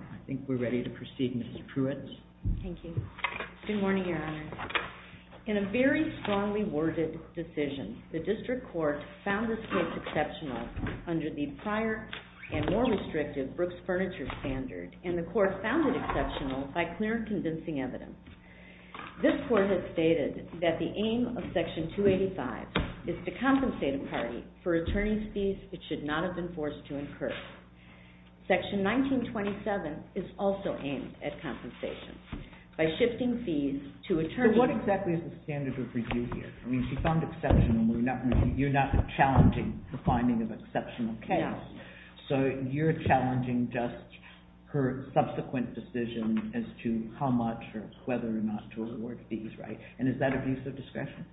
I think we're ready to proceed, Ms. Pruitt. Thank you. Good morning, Your Honor. In a very strongly worded decision, the District Court found this case exceptional under the prior and more restrictive Brooks Furniture Standard, and the Court found it exceptional by clear and convincing evidence. This Court has stated that the aim of Section 285 is to compensate a party for attorney's fees it should not have been forced to incur. Section 1927 is also aimed at compensation. So what exactly is the standard of review here? I mean, she found exceptional. You're not challenging the finding of exceptional case. No. So you're challenging just her subsequent decision as to how much or whether or not to award fees, right? And is that abuse of discretion?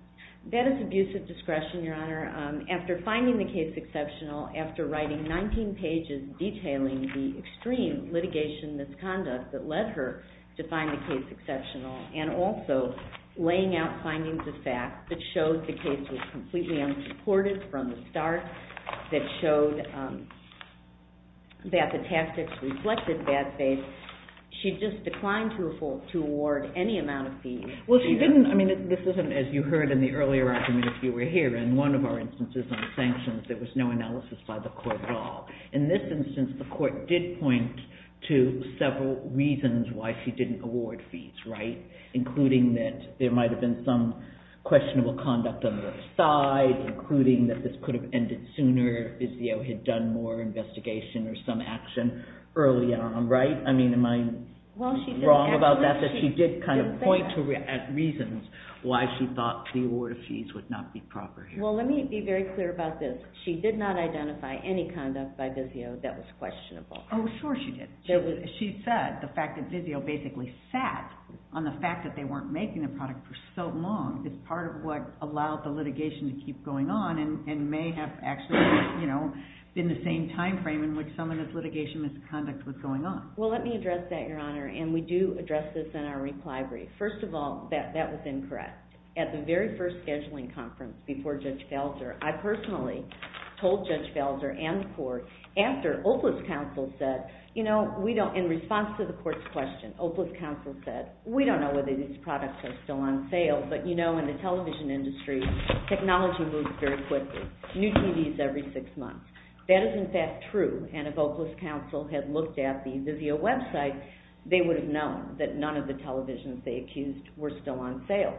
That is abuse of discretion, Your Honor. After finding the case exceptional, after writing 19 pages detailing the extreme litigation misconduct that led her to find the case exceptional, and also laying out findings of fact that showed the case was completely unsupported from the start, that showed that the tactics reflected bad faith, she just declined to award any amount of fees. Well, she didn't. I mean, this isn't, as you heard in the earlier argument, if you were here, in one of our instances on sanctions, there was no analysis by the Court at all. In this instance, the Court did point to several reasons why she didn't award fees, right? Including that there might have been some questionable conduct on the side, including that this could have ended sooner if the O.H. had done more investigation or some action early on, right? I mean, am I wrong about that, that she did kind of point to reasons why she thought the award of fees would not be proper here? Well, let me be very clear about this. She did not identify any conduct by Vizio that was questionable. Oh, sure she did. She said the fact that Vizio basically sat on the fact that they weren't making the product for so long is part of what allowed the litigation to keep going on, and may have actually, you know, been the same timeframe in which some of this litigation misconduct was going on. Well, let me address that, Your Honor, and we do address this in our reply brief. First of all, that was incorrect. At the very first scheduling conference before Judge Falzer, I personally told Judge Falzer and the Court, after, Oakland's counsel said, you know, in response to the Court's question, Oakland's counsel said, we don't know whether these products are still on sale, but you know, in the television industry, technology moves very quickly. New TVs every six months. That is, in fact, true, and if Oakland's counsel had looked at the Vizio website, they would have known that none of the televisions they accused were still on sale.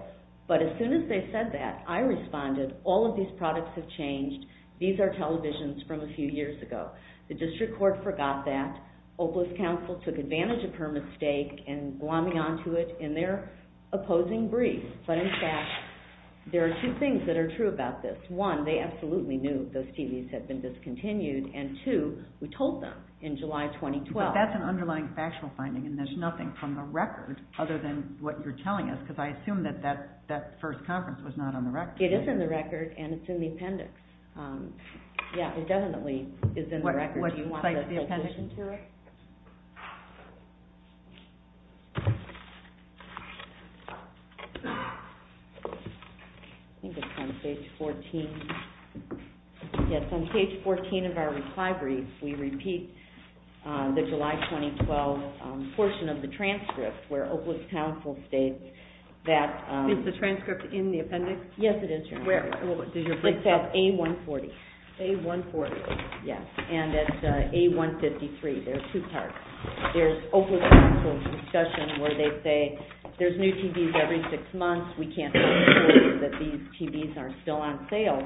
But as soon as they said that, I responded, all of these products have changed. These are televisions from a few years ago. The district court forgot that. Oakland's counsel took advantage of her mistake and glommed onto it in their opposing brief. But in fact, there are two things that are true about this. One, they absolutely knew those TVs had been discontinued, and two, we told them in July 2012. But that's an underlying factual finding, and there's nothing from the record other than what you're telling us, because I assume that that first conference was not on the record. It is in the record, and it's in the appendix. Yeah, it definitely is in the record. Do you want us to listen to it? I think it's on page 14. Yes, on page 14 of our recovery, we repeat the July 2012 portion of the transcript where Oakland's counsel states that- Is the transcript in the appendix? Yes, it is. Where? It's at A140. A140. Yes, and at A153. There are two parts. There's Oakland's counsel's discussion where they say there's new TVs every six months. We can't be sure that these TVs are still on sale.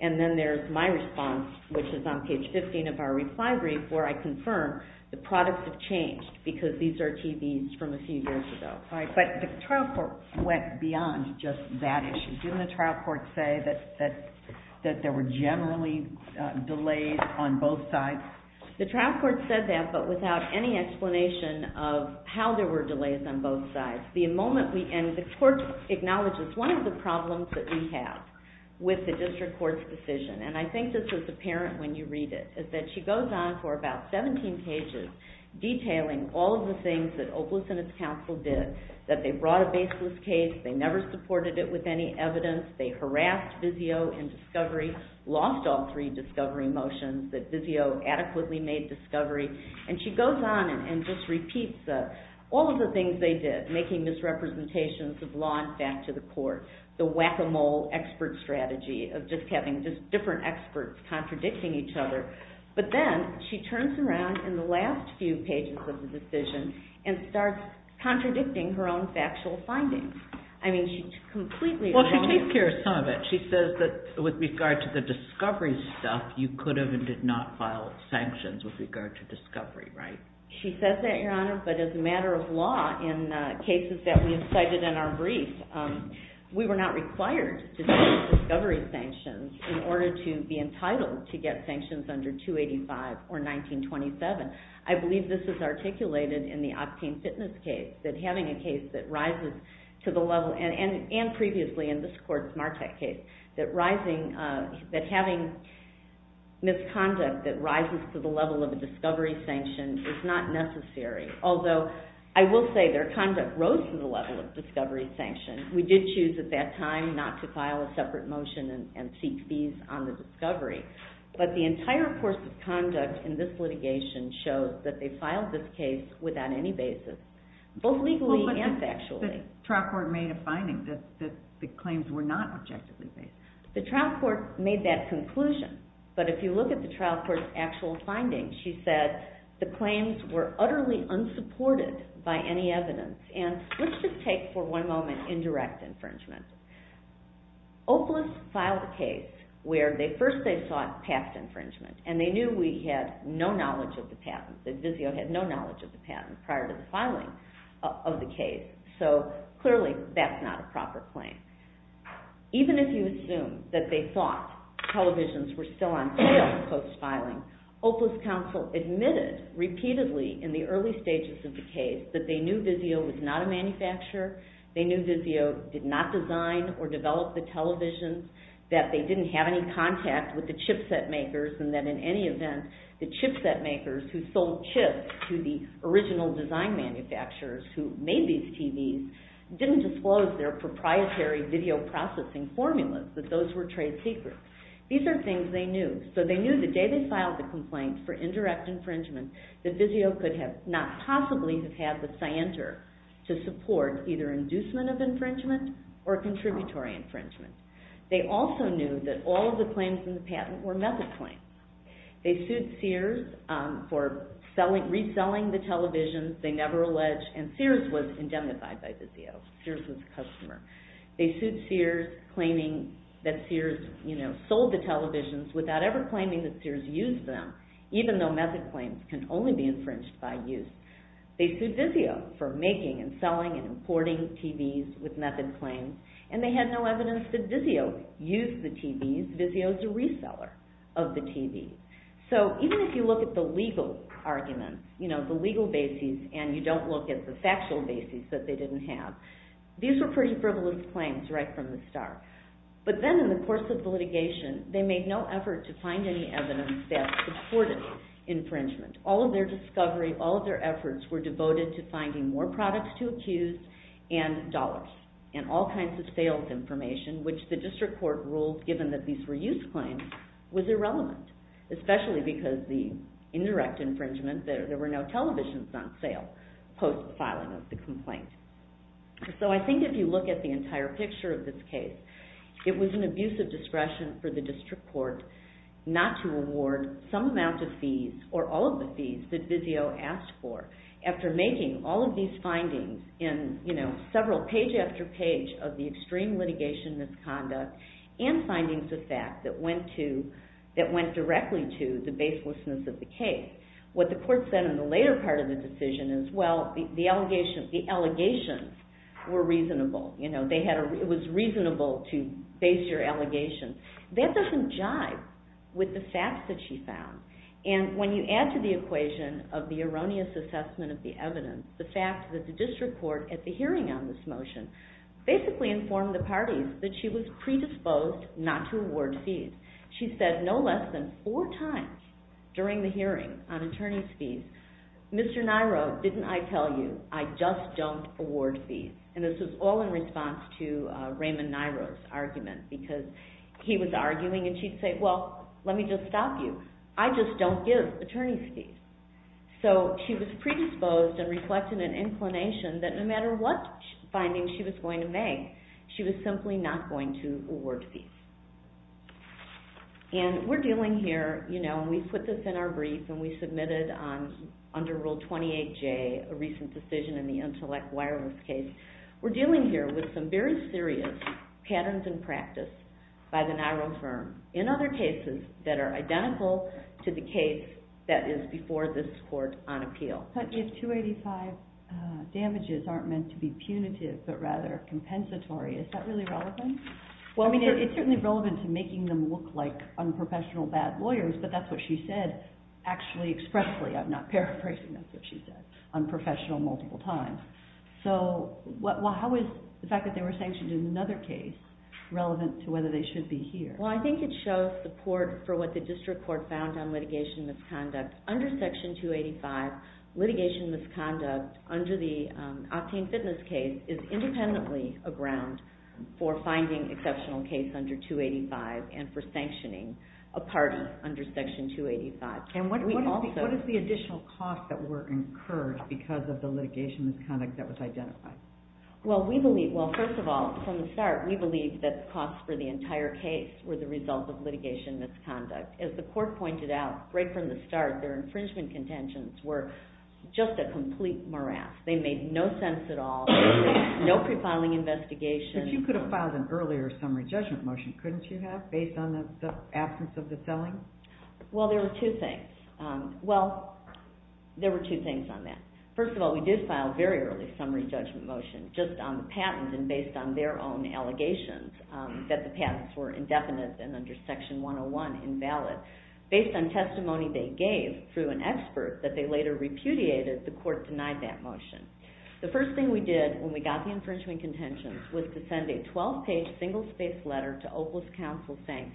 And then there's my response, which is on page 15 of our recovery, where I confirm the products have changed because these are TVs from a few years ago. All right, but the trial court went beyond just that issue. Didn't the trial court say that there were generally delays on both sides? The trial court said that, but without any explanation of how there were delays on both sides. And the court acknowledges one of the problems that we have with the district court's decision, and I think this is apparent when you read it, is that she goes on for about 17 pages detailing all of the things that Opelous and his counsel did, that they brought a baseless case. They never supported it with any evidence. They harassed Vizio in discovery, lost all three discovery motions that Vizio adequately made discovery. And she goes on and just repeats all of the things they did, making misrepresentations of law and fact to the court, the whack-a-mole expert strategy of just having different experts contradicting each other. But then she turns around in the last few pages of the decision and starts contradicting her own factual findings. I mean, she's completely wrong. Well, she takes care of some of it. She says that with regard to the discovery stuff, you could have and did not file sanctions with regard to discovery, right? She says that, Your Honor, but as a matter of law, in cases that we have cited in our brief, we were not required to take discovery sanctions in order to be entitled to get sanctions under 285 or 1927. I believe this is articulated in the Octane Fitness case, that having a case that rises to the level, and previously in this court's Martek case, that having misconduct that rises to the level of a discovery sanction is not necessary. Although, I will say, their conduct rose to the level of discovery sanction. We did choose at that time not to file a separate motion and seek fees on the discovery. But the entire course of conduct in this litigation shows that they filed this case without any basis, both legally and factually. But the trial court made a finding that the claims were not objectively made. The trial court made that conclusion. But if you look at the trial court's actual findings, she said the claims were utterly unsupported by any evidence. And let's just take for one moment indirect infringement. OPLIS filed a case where first they sought past infringement. And they knew we had no knowledge of the patent. The Vizio had no knowledge of the patent prior to the filing of the case. So, clearly, that's not a proper claim. Even if you assume that they thought televisions were still on sale post-filing, OPLIS counsel admitted repeatedly in the early stages of the case that they knew Vizio was not a manufacturer. They knew Vizio did not design or develop the televisions. That they didn't have any contact with the chipset makers. And that, in any event, the chipset makers who sold chips to the original design manufacturers who made these TVs didn't disclose their proprietary video processing formulas, that those were trade secrets. These are things they knew. So they knew the day they filed the complaint for indirect infringement that Vizio could not possibly have had the scienter to support either inducement of infringement or contributory infringement. They also knew that all of the claims in the patent were method claims. They sued Sears for reselling the televisions. They never alleged. And Sears was indemnified by Vizio. Sears was a customer. They sued Sears claiming that Sears sold the televisions without ever claiming that Sears used them, even though method claims can only be infringed by use. They sued Vizio for making and selling and importing TVs with method claims. And they had no evidence that Vizio used the TVs. Vizio is a reseller of the TVs. So even if you look at the legal arguments, the legal bases, and you don't look at the factual bases that they didn't have, these were pretty frivolous claims right from the start. But then in the course of the litigation, they made no effort to find any evidence that supported infringement. All of their discovery, all of their efforts were devoted to finding more products to accuse and dollars and all kinds of sales information, which the district court ruled, given that these were use claims, was irrelevant, especially because the indirect infringement, there were no televisions on sale post-filing of the complaint. So I think if you look at the entire picture of this case, it was an abuse of discretion for the district court not to award some amount of fees or all of the fees that Vizio asked for. After making all of these findings in several page after page of the extreme litigation misconduct and findings of fact that went directly to the baselessness of the case, what the court said in the later part of the decision is, well, the allegations were reasonable. It was reasonable to base your allegations. That doesn't jive with the facts that she found. And when you add to the equation of the erroneous assessment of the evidence, the fact that the district court at the hearing on this motion basically informed the parties that she was predisposed not to award fees. She said no less than four times during the hearing on attorney's fees, Mr. Nairo, didn't I tell you I just don't award fees? And this was all in response to Raymond Nairo's argument because he was arguing and she'd say, well, let me just stop you. I just don't give attorney's fees. So she was predisposed and reflected an inclination that no matter what findings she was going to make, she was simply not going to award fees. And we're dealing here, you know, and we put this in our brief and we submitted under Rule 28J, a recent decision in the Intellect Wireless case, we're dealing here with some very serious patterns in practice by the Nairo firm in other cases that are identical to the case that is before this court on appeal. But if 285 damages aren't meant to be punitive but rather compensatory, is that really relevant? I mean, it's certainly relevant to making them look like unprofessional bad lawyers, but that's what she said actually expressly. I'm not paraphrasing. That's what she said, unprofessional multiple times. So how is the fact that they were sanctioned in another case relevant to whether they should be here? Well, I think it shows support for what the district court found on litigation misconduct. Under Section 285, litigation misconduct under the Octane Fitness case is independently a ground for finding exceptional case under 285 and for sanctioning a pardon under Section 285. And what is the additional cost that were incurred because of the litigation misconduct that was identified? Well, first of all, from the start, we believed that the cost for the entire case were the result of litigation misconduct. As the court pointed out right from the start, their infringement contentions were just a complete morass. They made no sense at all, no pre-filing investigation. But you could have filed an earlier summary judgment motion, couldn't you have, based on the absence of the selling? Well, there were two things. Well, there were two things on that. First of all, we did file a very early summary judgment motion, just on the patent and based on their own allegations that the patents were indefinite and under Section 101 invalid. Based on testimony they gave through an expert that they later repudiated, the court denied that motion. The first thing we did when we got the infringement contentions was to send a 12-page, single-spaced letter to Opal's counsel saying,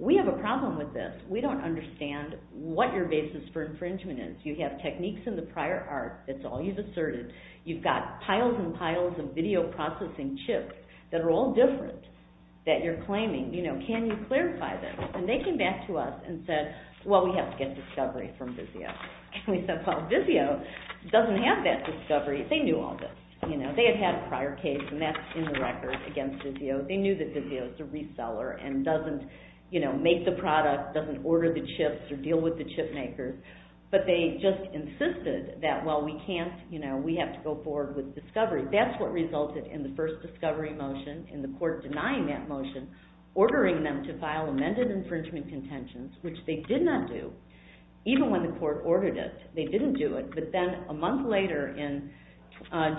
we have a problem with this. We don't understand what your basis for infringement is. You have techniques in the prior art, that's all you've asserted. You've got piles and piles of video processing chips that are all different that you're claiming. Can you clarify this? And they came back to us and said, well, we have to get discovery from Vizio. And we said, well, Vizio doesn't have that discovery. They knew all this. They had had a prior case, and that's in the record against Vizio. They knew that Vizio is a reseller and doesn't make the product, doesn't order the chips or deal with the chip makers. But they just insisted that, well, we have to go forward with discovery. That's what resulted in the first discovery motion and the court denying that motion, ordering them to file amended infringement contentions, which they did not do, even when the court ordered it. They didn't do it, but then a month later in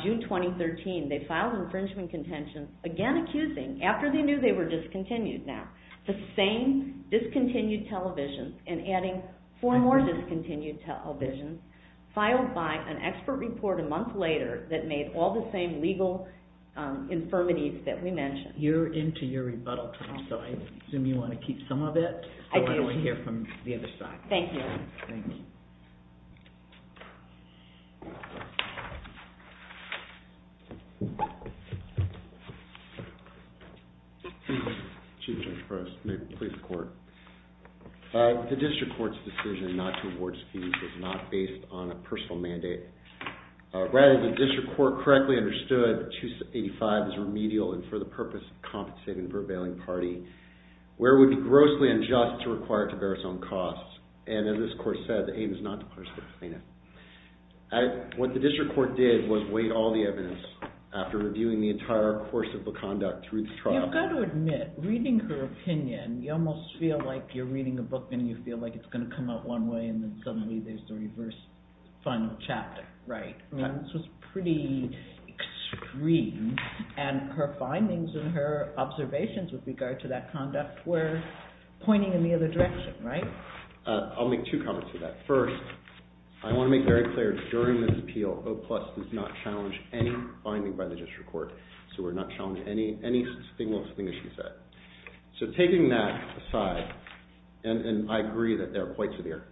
June 2013, they filed infringement contentions, again accusing, after they knew they were discontinued now, the same discontinued television and adding four more discontinued televisions, filed by an expert report a month later that made all the same legal infirmities that we mentioned. You're into your rebuttal time, so I assume you want to keep some of it. I do. I want to hear from the other side. Thank you. Thank you. Chief Judge Press, please report. The district court's decision not to award fees was not based on a personal mandate. Rather, the district court correctly understood 285 as remedial and for the purpose of compensating for a bailing party, where it would be grossly unjust to require it to bear its own costs, and as this court said, the aim is not to punish the plaintiff. What the district court did was wait all the evidence after reviewing the entire course of the conduct through the trial. You've got to admit, reading her opinion, you almost feel like you're reading a book and you feel like it's going to come out one way and then suddenly there's the reverse, final chapter. Right. This was pretty extreme, and her findings and her observations with regard to that conduct were pointing in the other direction, right? I'll make two comments to that. First, I want to make very clear during this appeal, OPLUS does not challenge any finding by the district court. So we're not challenging any single thing that she said. So taking that aside, and I agree that they're quite severe.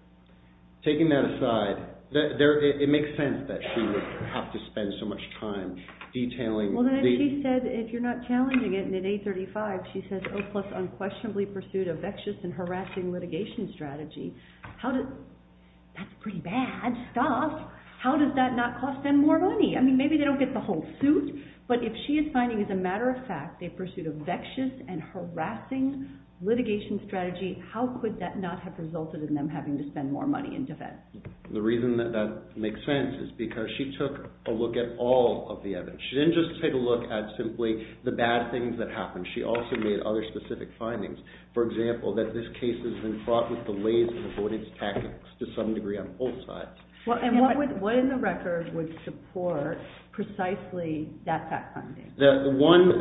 Taking that aside, it makes sense that she would have to spend so much time detailing. Well, then she said if you're not challenging it, and in 835 she says OPLUS unquestionably pursued a vexed and harassing litigation strategy. That's pretty bad stuff. How does that not cost them more money? I mean, maybe they don't get the whole suit, but if she is finding as a matter of fact they pursued a vexed and harassing litigation strategy, how could that not have resulted in them having to spend more money in defense? The reason that that makes sense is because she took a look at all of the evidence. She didn't just take a look at simply the bad things that happened. She also made other specific findings. For example, that this case has been fraught with delays and avoidance tactics to some degree on both sides. And what in the record would support precisely that fact finding? The one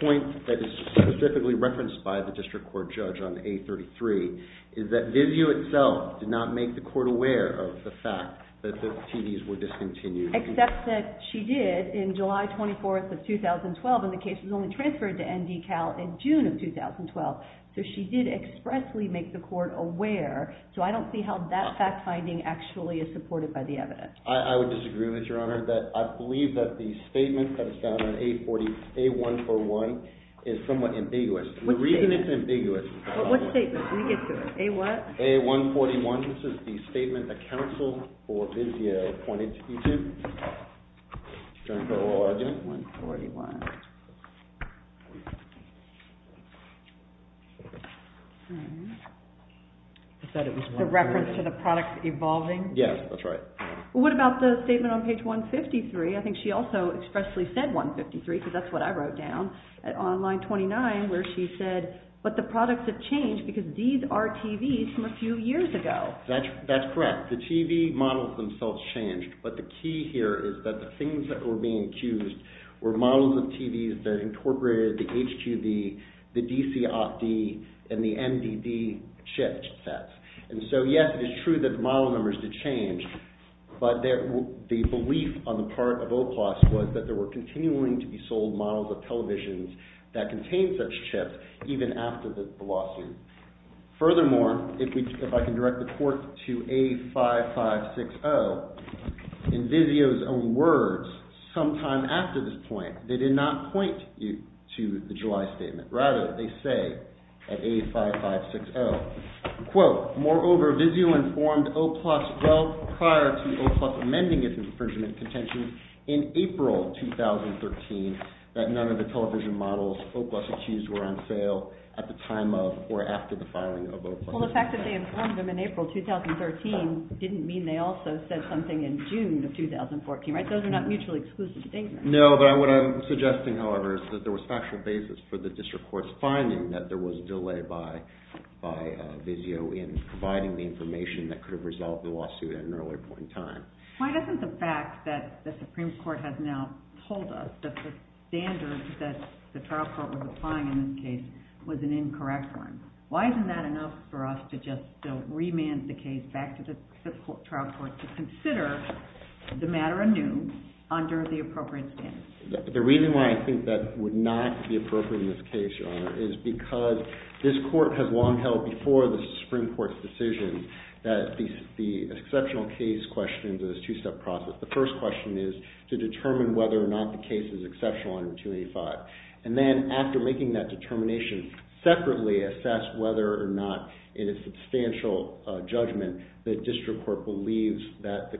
point that is specifically referenced by the district court judge on 833 is that Vizio itself did not make the court aware of the fact that the TV's were discontinued. Except that she did in July 24th of 2012 and the case was only transferred to ND Cal in June of 2012. So she did expressly make the court aware. So I don't see how that fact finding actually is supported by the evidence. I would disagree with you, Your Honor. I believe that the statement that is found on 840A141 is somewhat ambiguous. The reason it's ambiguous is because… What statement? Let me get to it. A what? A141. It said it was a reference to the product evolving? Yes, that's right. What about the statement on page 153? I think she also expressly said 153 because that's what I wrote down. On line 29 where she said, but the products have changed because these are TVs from a few years ago. That's correct. The TV models themselves changed. But the key here is that the things that were being accused were models of TVs that incorporated the HQV, the DC Opt-D, and the NDD chip sets. And so, yes, it is true that the model numbers did change. But the belief on the part of OPLOS was that there were continuing to be sold models of televisions that contained such chips even after the lawsuit. Furthermore, if I can direct the court to A5560, in Vizio's own words sometime after this point, they did not point you to the July statement. Rather, they say at A5560, quote, Well, the fact that they informed them in April 2013 didn't mean they also said something in June of 2014, right? Those are not mutually exclusive statements. No, but what I'm suggesting, however, is that there was factual basis for the district court's finding that there was delay by Vizio in providing the information that could have resolved the lawsuit at an earlier point in time. Why isn't the fact that the Supreme Court has now told us that the standard that the trial court was applying in this case was an incorrect one? Why isn't that enough for us to just remand the case back to the trial court to consider the matter anew under the appropriate standards? The reason why I think that would not be appropriate in this case, Your Honor, is because this court has long held before the Supreme Court's decision that the exceptional case question is a two-step process. The first question is to determine whether or not the case is exceptional under 285. And then after making that determination, separately assess whether or not in a substantial judgment the district court believes that the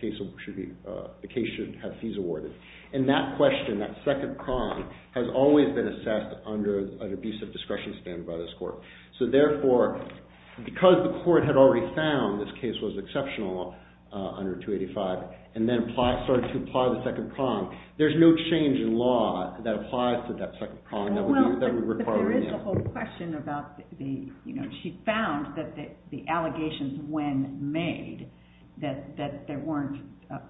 case should have fees awarded. And that question, that second prong, has always been assessed under an abusive discretion standard by this court. So therefore, because the court had already found this case was exceptional under 285 and then started to apply the second prong, there's no change in law that applies to that second prong that we require. But then there's the whole question about the, you know, she found that the allegations when made, that they weren't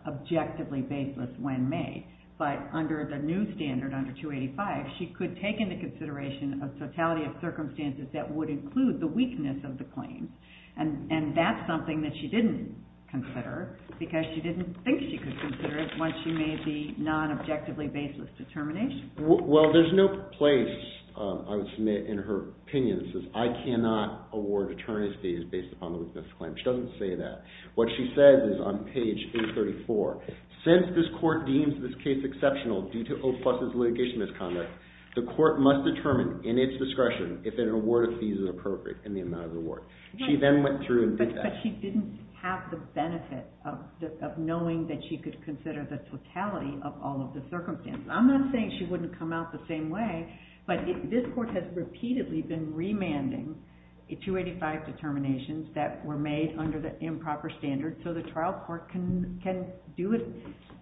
objectively baseless when made. But under the new standard, under 285, she could take into consideration a totality of circumstances that would include the weakness of the claim. And that's something that she didn't consider because she didn't think she could consider it once she made the non-objectively baseless determination. Well, there's no place, I would submit, in her opinion that says, I cannot award attorneys fees based upon the weakness of the claim. She doesn't say that. What she says is on page 834, since this court deems this case exceptional due to OFOS's litigation misconduct, the court must determine in its discretion if an award of fees is appropriate in the amount of the award. She then went through and did that. But she didn't have the benefit of knowing that she could consider the totality of all of the circumstances. I'm not saying she wouldn't come out the same way, but this court has repeatedly been remanding 285 determinations that were made under the improper standard so the trial court can do it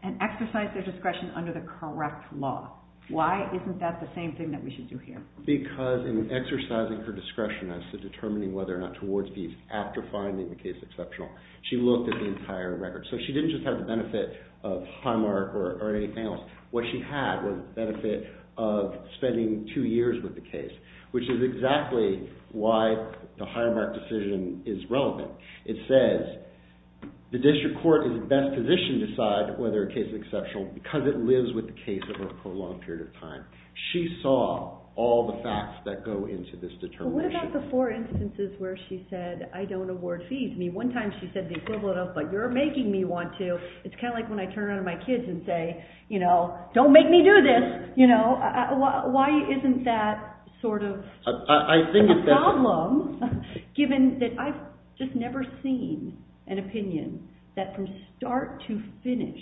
and exercise their discretion under the correct law. Why isn't that the same thing that we should do here? Because in exercising her discretion as to determining whether or not to award fees after finding the case exceptional, she looked at the entire record. So she didn't just have the benefit of high mark or anything else. What she had was the benefit of spending two years with the case, which is exactly why the high mark decision is relevant. It says the district court is best positioned to decide whether a case is exceptional because it lives with the case over a prolonged period of time. She saw all the facts that go into this determination. But what about the four instances where she said, I don't award fees? I mean, one time she said the equivalent of, but you're making me want to. It's kind of like when I turn around to my kids and say, don't make me do this. Why isn't that sort of a problem given that I've just never seen an opinion that from start to finish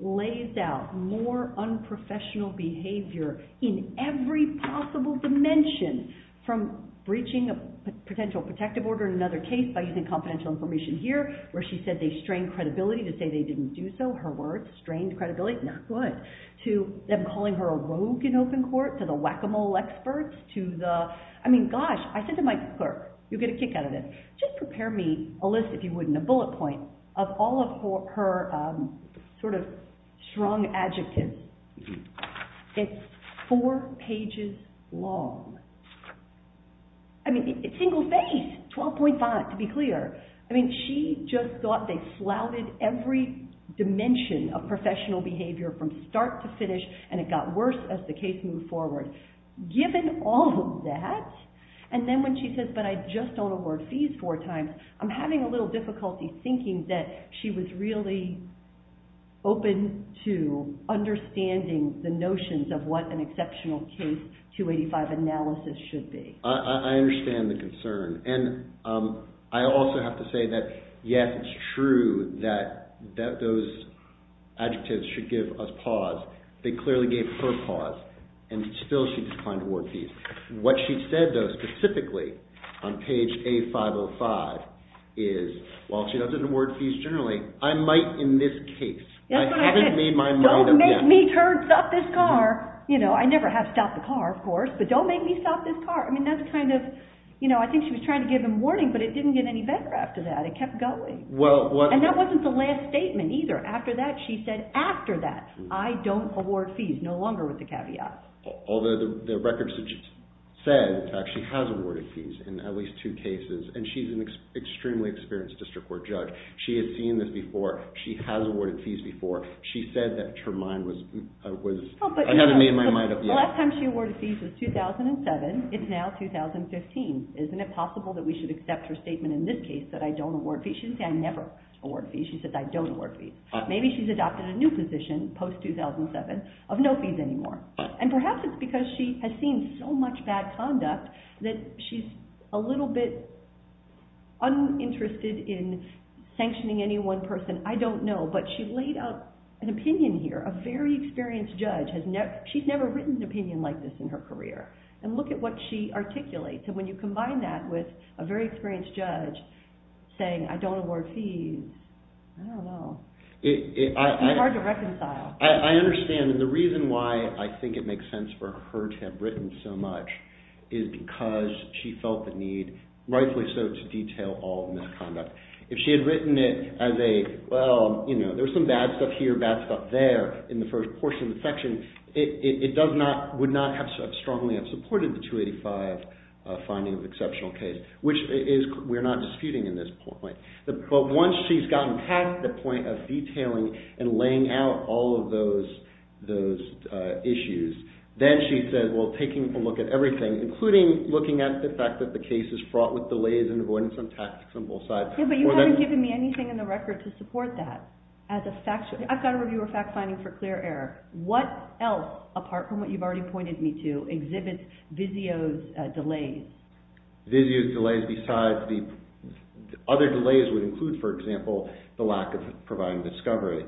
lays out more unprofessional behavior in every possible dimension from breaching a potential protective order in another case by using confidential information here, where she said they strained credibility to say they didn't do so. Her words, strained credibility, not good. To them calling her a rogue in open court, to the whack-a-mole experts, to the, I mean, gosh, I said to my clerk, you'll get a kick out of this. Just prepare me a list, if you wouldn't, a bullet point of all of her sort of strong adjectives. It's four pages long. I mean, single phase, 12.5 to be clear. I mean, she just thought they flouted every dimension of professional behavior from start to finish, and it got worse as the case moved forward. Given all of that, and then when she says, but I just don't award fees four times, I'm having a little difficulty thinking that she was really open to understanding the notions of what an exceptional case 285 analysis should be. I understand the concern, and I also have to say that, yes, it's true that those adjectives should give us pause. They clearly gave her pause, and still she declined to award fees. What she said, though, specifically on page A505 is, while she doesn't award fees generally, I might in this case. I haven't made my mind up yet. Don't make me turn, stop this car. I never have stopped the car, of course, but don't make me stop this car. I mean, that's kind of, I think she was trying to give him warning, but it didn't get any better after that. It kept going, and that wasn't the last statement either. After that, she said, after that, I don't award fees, no longer with the caveat. Although the records said that she has awarded fees in at least two cases, and she's an extremely experienced district court judge. She has seen this before. She has awarded fees before. She said that her mind was, I haven't made my mind up yet. The last time she awarded fees was 2007. It's now 2015. Isn't it possible that we should accept her statement in this case that I don't award fees? She didn't say I never award fees. She said I don't award fees. Maybe she's adopted a new position post-2007 of no fees anymore. And perhaps it's because she has seen so much bad conduct that she's a little bit uninterested in sanctioning any one person. I don't know, but she laid out an opinion here. A very experienced judge, she's never written an opinion like this in her career. And look at what she articulates. And when you combine that with a very experienced judge saying I don't award fees, I don't know. It's hard to reconcile. I understand. And the reason why I think it makes sense for her to have written so much is because she felt the need, rightfully so, to detail all of the misconduct. If she had written it as a, well, you know, there's some bad stuff here, bad stuff there in the first portion of the section, it would not have strongly supported the 285 finding of exceptional case, which we're not disputing in this point. But once she's gotten past the point of detailing and laying out all of those issues, then she says, well, taking a look at everything, including looking at the fact that the case is fraught with delays and avoidance on tactics on both sides. Yeah, but you haven't given me anything in the record to support that. I've got a reviewer fact finding for clear error. What else, apart from what you've already pointed me to, exhibits Vizio's delays? Vizio's delays besides the, other delays would include, for example, the lack of providing discovery.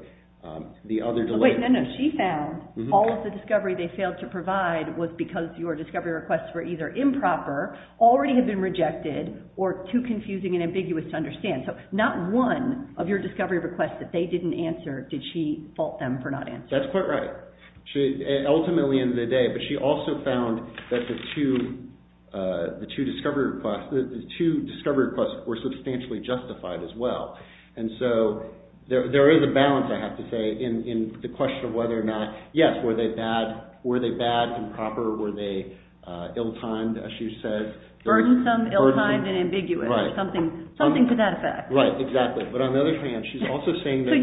The other delay. Wait, no, no. She found all of the discovery they failed to provide was because your discovery requests were either improper, already had been rejected, or too confusing and ambiguous to understand. So not one of your discovery requests that they didn't answer did she fault them for not answering. That's quite right. Ultimately in the day, but she also found that the two discovery requests were substantially justified as well. And so there is a balance, I have to say, in the question of whether or not, yes, were they bad, improper, were they ill-timed, as she says. Burdensome, ill-timed, and ambiguous. Right. Something to that effect. Right, exactly. So you're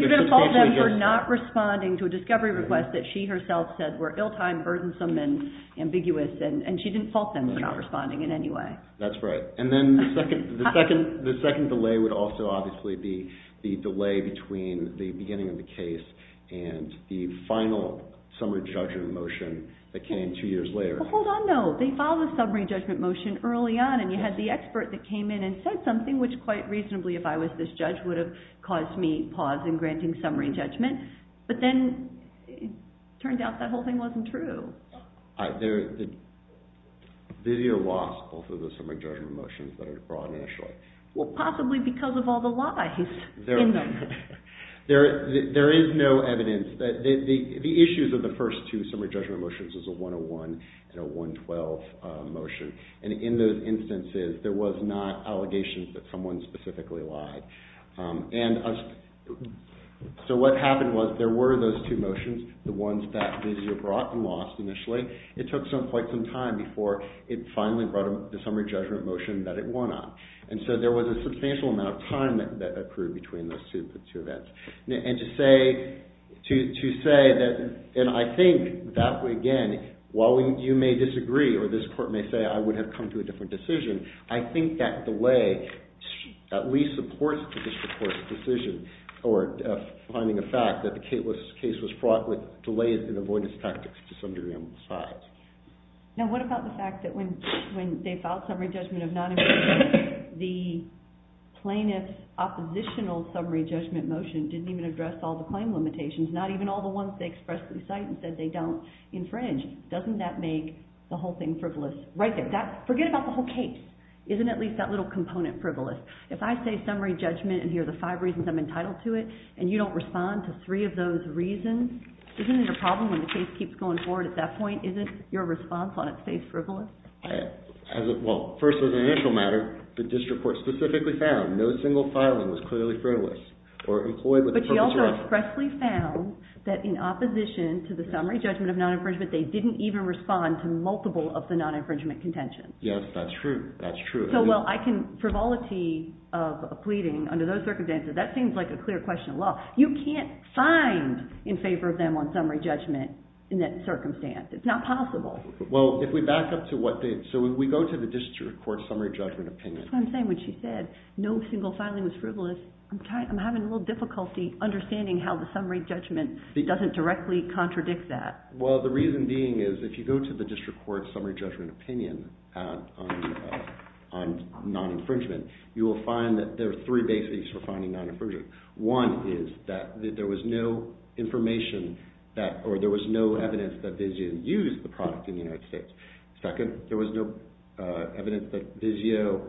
going to fault them for not responding to a discovery request that she herself said were ill-timed, burdensome, and ambiguous. And she didn't fault them for not responding in any way. That's right. And then the second delay would also obviously be the delay between the beginning of the case and the final summary judgment motion that came two years later. Well, hold on, though. They filed a summary judgment motion early on, and you had the expert that came in and said something, which quite reasonably, if I was this judge, would have caused me pause in granting summary judgment. But then it turned out that whole thing wasn't true. Did you loss both of the summary judgment motions that were brought in initially? Well, possibly because of all the lies in them. There is no evidence. The issues of the first two summary judgment motions is a 101 and a 112 motion. And in those instances, there was not allegations that someone specifically lied. And so what happened was there were those two motions, the ones that Visio brought and lost initially. It took quite some time before it finally brought the summary judgment motion that it won on. And so there was a substantial amount of time that occurred between those two events. And to say that, and I think that, again, while you may disagree or this court may say I would have come to a different decision, I think that delay at least supports the court's decision or finding a fact that the case was brought with delays in avoidance tactics to some degree on both sides. Now what about the fact that when they filed summary judgment of non-infringement, the plaintiff's oppositional summary judgment motion didn't even address all the claim limitations, not even all the ones they expressly cite and said they don't infringe. Doesn't that make the whole thing frivolous? Right there. Forget about the whole case. Isn't at least that little component frivolous? If I say summary judgment and here are the five reasons I'm entitled to it and you don't respond to three of those reasons, isn't it a problem when the case keeps going forward at that point? Isn't your response on its face frivolous? Well, first as an initial matter, the district court specifically found no single filing was clearly frivolous or employed with the purpose of— But you also expressly found that in opposition to the summary judgment of non-infringement, they didn't even respond to multiple of the non-infringement contentions. Yes, that's true. That's true. So while I can frivolity of a pleading under those circumstances, that seems like a clear question of law. You can't find in favor of them on summary judgment in that circumstance. It's not possible. Well, if we back up to what they—so if we go to the district court summary judgment opinion— That's what I'm saying. When she said no single filing was frivolous, I'm having a little difficulty understanding how the summary judgment doesn't directly contradict that. Well, the reason being is if you go to the district court summary judgment opinion on non-infringement, you will find that there are three basics for finding non-infringement. One is that there was no information that—or there was no evidence that Vizio used the product in the United States. Second, there was no evidence that Vizio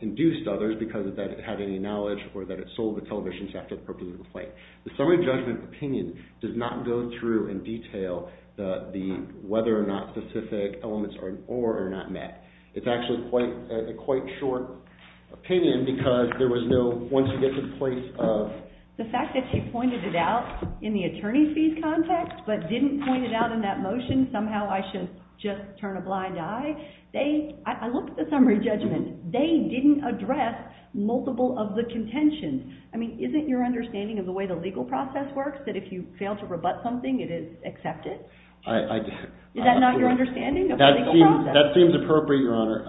induced others because of that it had any knowledge or that it sold the television sector the purpose of the play. The summary judgment opinion does not go through and detail the whether or not specific elements are—or are not met. It's actually quite—a quite short opinion because there was no—once you get to the point of— The fact that she pointed it out in the attorney's fees context but didn't point it out in that motion, somehow I should just turn a blind eye. They—I looked at the summary judgment. They didn't address multiple of the contentions. I mean, isn't your understanding of the way the legal process works that if you fail to rebut something, it is accepted? I—I— Is that not your understanding of the legal process? That seems appropriate, Your Honor.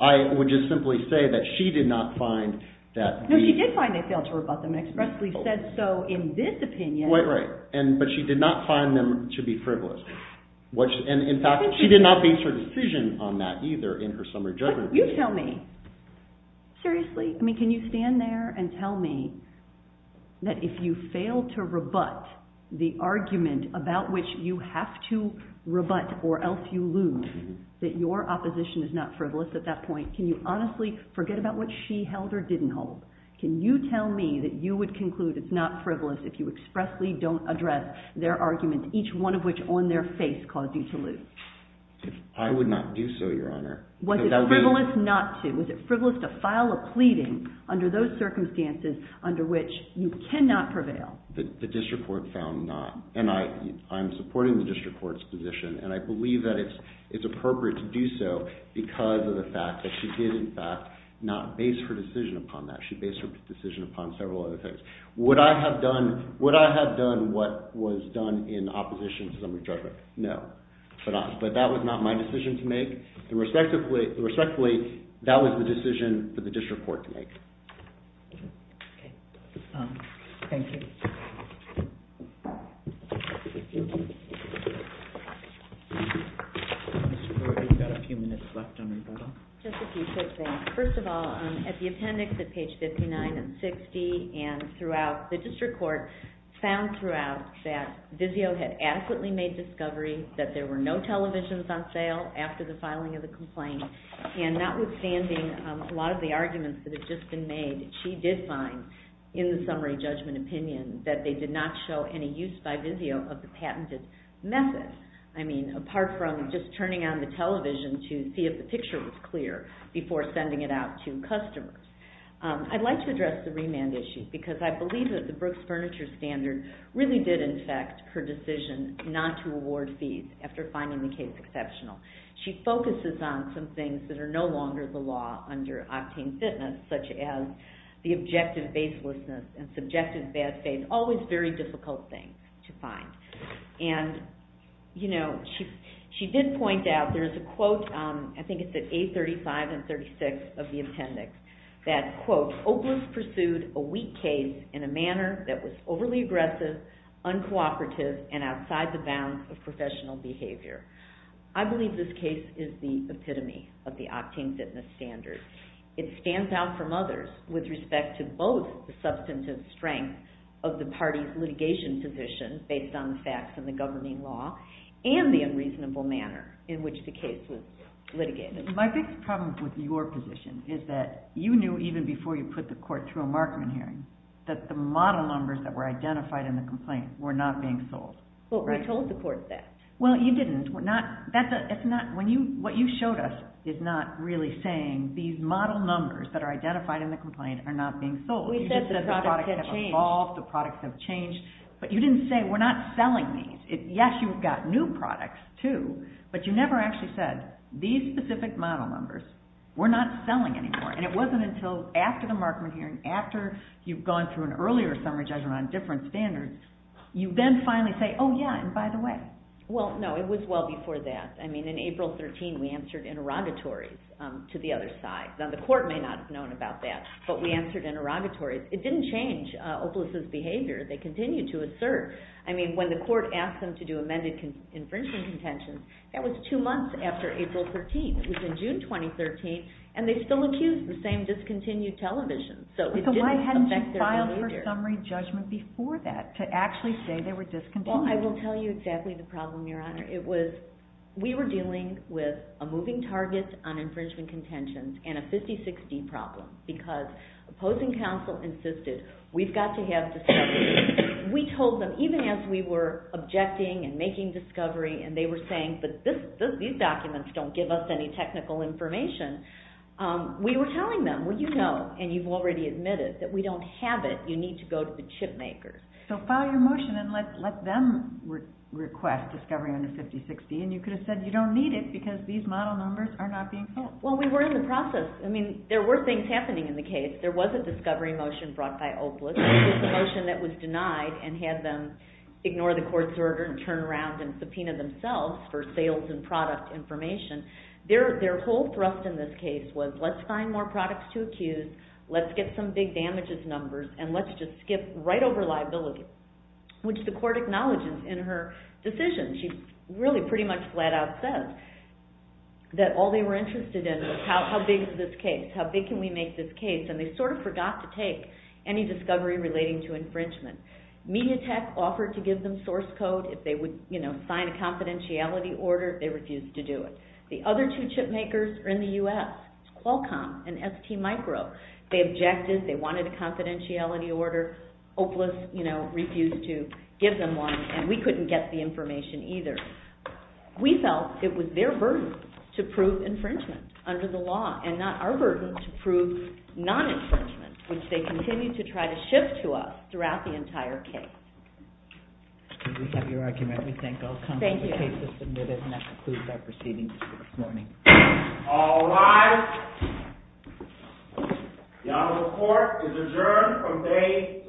I would just simply say that she did not find that— No, she did find they failed to rebut them and expressly said so in this opinion. Right, right. But she did not find them to be frivolous. In fact, she did not base her decision on that either in her summary judgment. You tell me. Seriously. I mean, can you stand there and tell me that if you fail to rebut the argument about which you have to rebut or else you lose, that your opposition is not frivolous at that point? Can you honestly forget about what she held or didn't hold? Can you tell me that you would conclude it's not frivolous if you expressly don't address their argument, each one of which on their face caused you to lose? I would not do so, Your Honor. Was it frivolous not to? Was it frivolous to file a pleading under those circumstances under which you cannot prevail? The district court found not. And I'm supporting the district court's position, and I believe that it's appropriate to do so because of the fact that she did, in fact, not base her decision upon that. She based her decision upon several other things. Would I have done what was done in opposition to summary judgment? No. But that was not my decision to make. Respectfully, that was the decision for the district court to make. Okay. Thank you. We've got a few minutes left on rebuttal. Just a few quick things. First of all, at the appendix at page 59 and 60 and throughout, the district court found throughout that Vizio had adequately made discovery that there were no televisions on sale after the filing of the complaint. And notwithstanding a lot of the arguments that have just been made, she did find in the summary judgment opinion that they did not show any use by Vizio of the patented method. I mean, apart from just turning on the television to see if the picture was clear before sending it out to customers. I'd like to address the remand issue because I believe that the Brooks Furniture Standard really did, in fact, her decision not to award fees after finding the case exceptional. She focuses on some things that are no longer the law under octane fitness, such as the objective baselessness and subjective bad faith, always very difficult things to find. And, you know, she did point out, there's a quote, I think it's at page 35 and 36 of the appendix, that, quote, Opalist pursued a weak case in a manner that was overly aggressive, uncooperative, and outside the bounds of professional behavior. I believe this case is the epitome of the octane fitness standard. It stands out from others with respect to both the substantive strength of the party's litigation position based on the facts and the governing law and the unreasonable manner in which the case was litigated. My biggest problem with your position is that you knew even before you put the court through a Markman hearing that the model numbers that were identified in the complaint were not being sold. We told the court that. Well, you didn't. What you showed us is not really saying these model numbers that are identified in the complaint are not being sold. You just said the products have evolved, the products have changed. But you didn't say, we're not selling these. Yes, you've got new products, too, but you never actually said, these specific model numbers, we're not selling anymore. And it wasn't until after the Markman hearing, after you've gone through an earlier summary judgment on different standards, you then finally say, oh, yeah, and by the way. Well, no, it was well before that. I mean, in April 13, we answered interrogatories to the other side. Now, the court may not have known about that, but we answered interrogatories. It didn't change Opelous' behavior. They continued to assert. I mean, when the court asked them to do amended infringement contentions, that was two months after April 13. It was in June 2013, and they still accused the same discontinued television, so it didn't affect their behavior. So why hadn't you filed for summary judgment before that to actually say they were discontinued? Well, I will tell you exactly the problem, Your Honor. It was, we were dealing with a moving target on infringement contentions and a 50-60 problem because opposing counsel insisted, we've got to have discovery. We told them, even as we were objecting and making discovery and they were saying, but these documents don't give us any technical information. We were telling them, well, you know, and you've already admitted that we don't have it. You need to go to the chip makers. So file your motion and let them request discovery on the 50-60, and you could have said you don't need it because these model numbers are not being filled. Well, we were in the process. I mean, there were things happening in the case. There was a discovery motion brought by Opelous. There was a motion that was denied and had them ignore the court's order and turn around and subpoena themselves for sales and product information. Their whole thrust in this case was let's find more products to accuse, let's get some big damages numbers, and let's just skip right over liability, which the court acknowledges in her decision. She really pretty much flat out says that all they were interested in was how big is this case, how big can we make this case, and they sort of forgot to take any discovery relating to infringement. Mediatek offered to give them source code. If they would, you know, sign a confidentiality order, they refused to do it. The other two chip makers are in the U.S., Qualcomm and STMicro. They objected. They wanted a confidentiality order. Opelous, you know, refused to give them one, and we couldn't get the information either. We felt it was their burden to prove infringement under the law and not our burden to prove non-infringement, which they continued to try to shift to us throughout the entire case. We have your argument. We thank Opelous. Thank you. The case is submitted, and that concludes our proceedings this morning. All rise. The Honorable Court is adjourned from day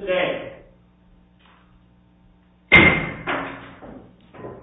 today.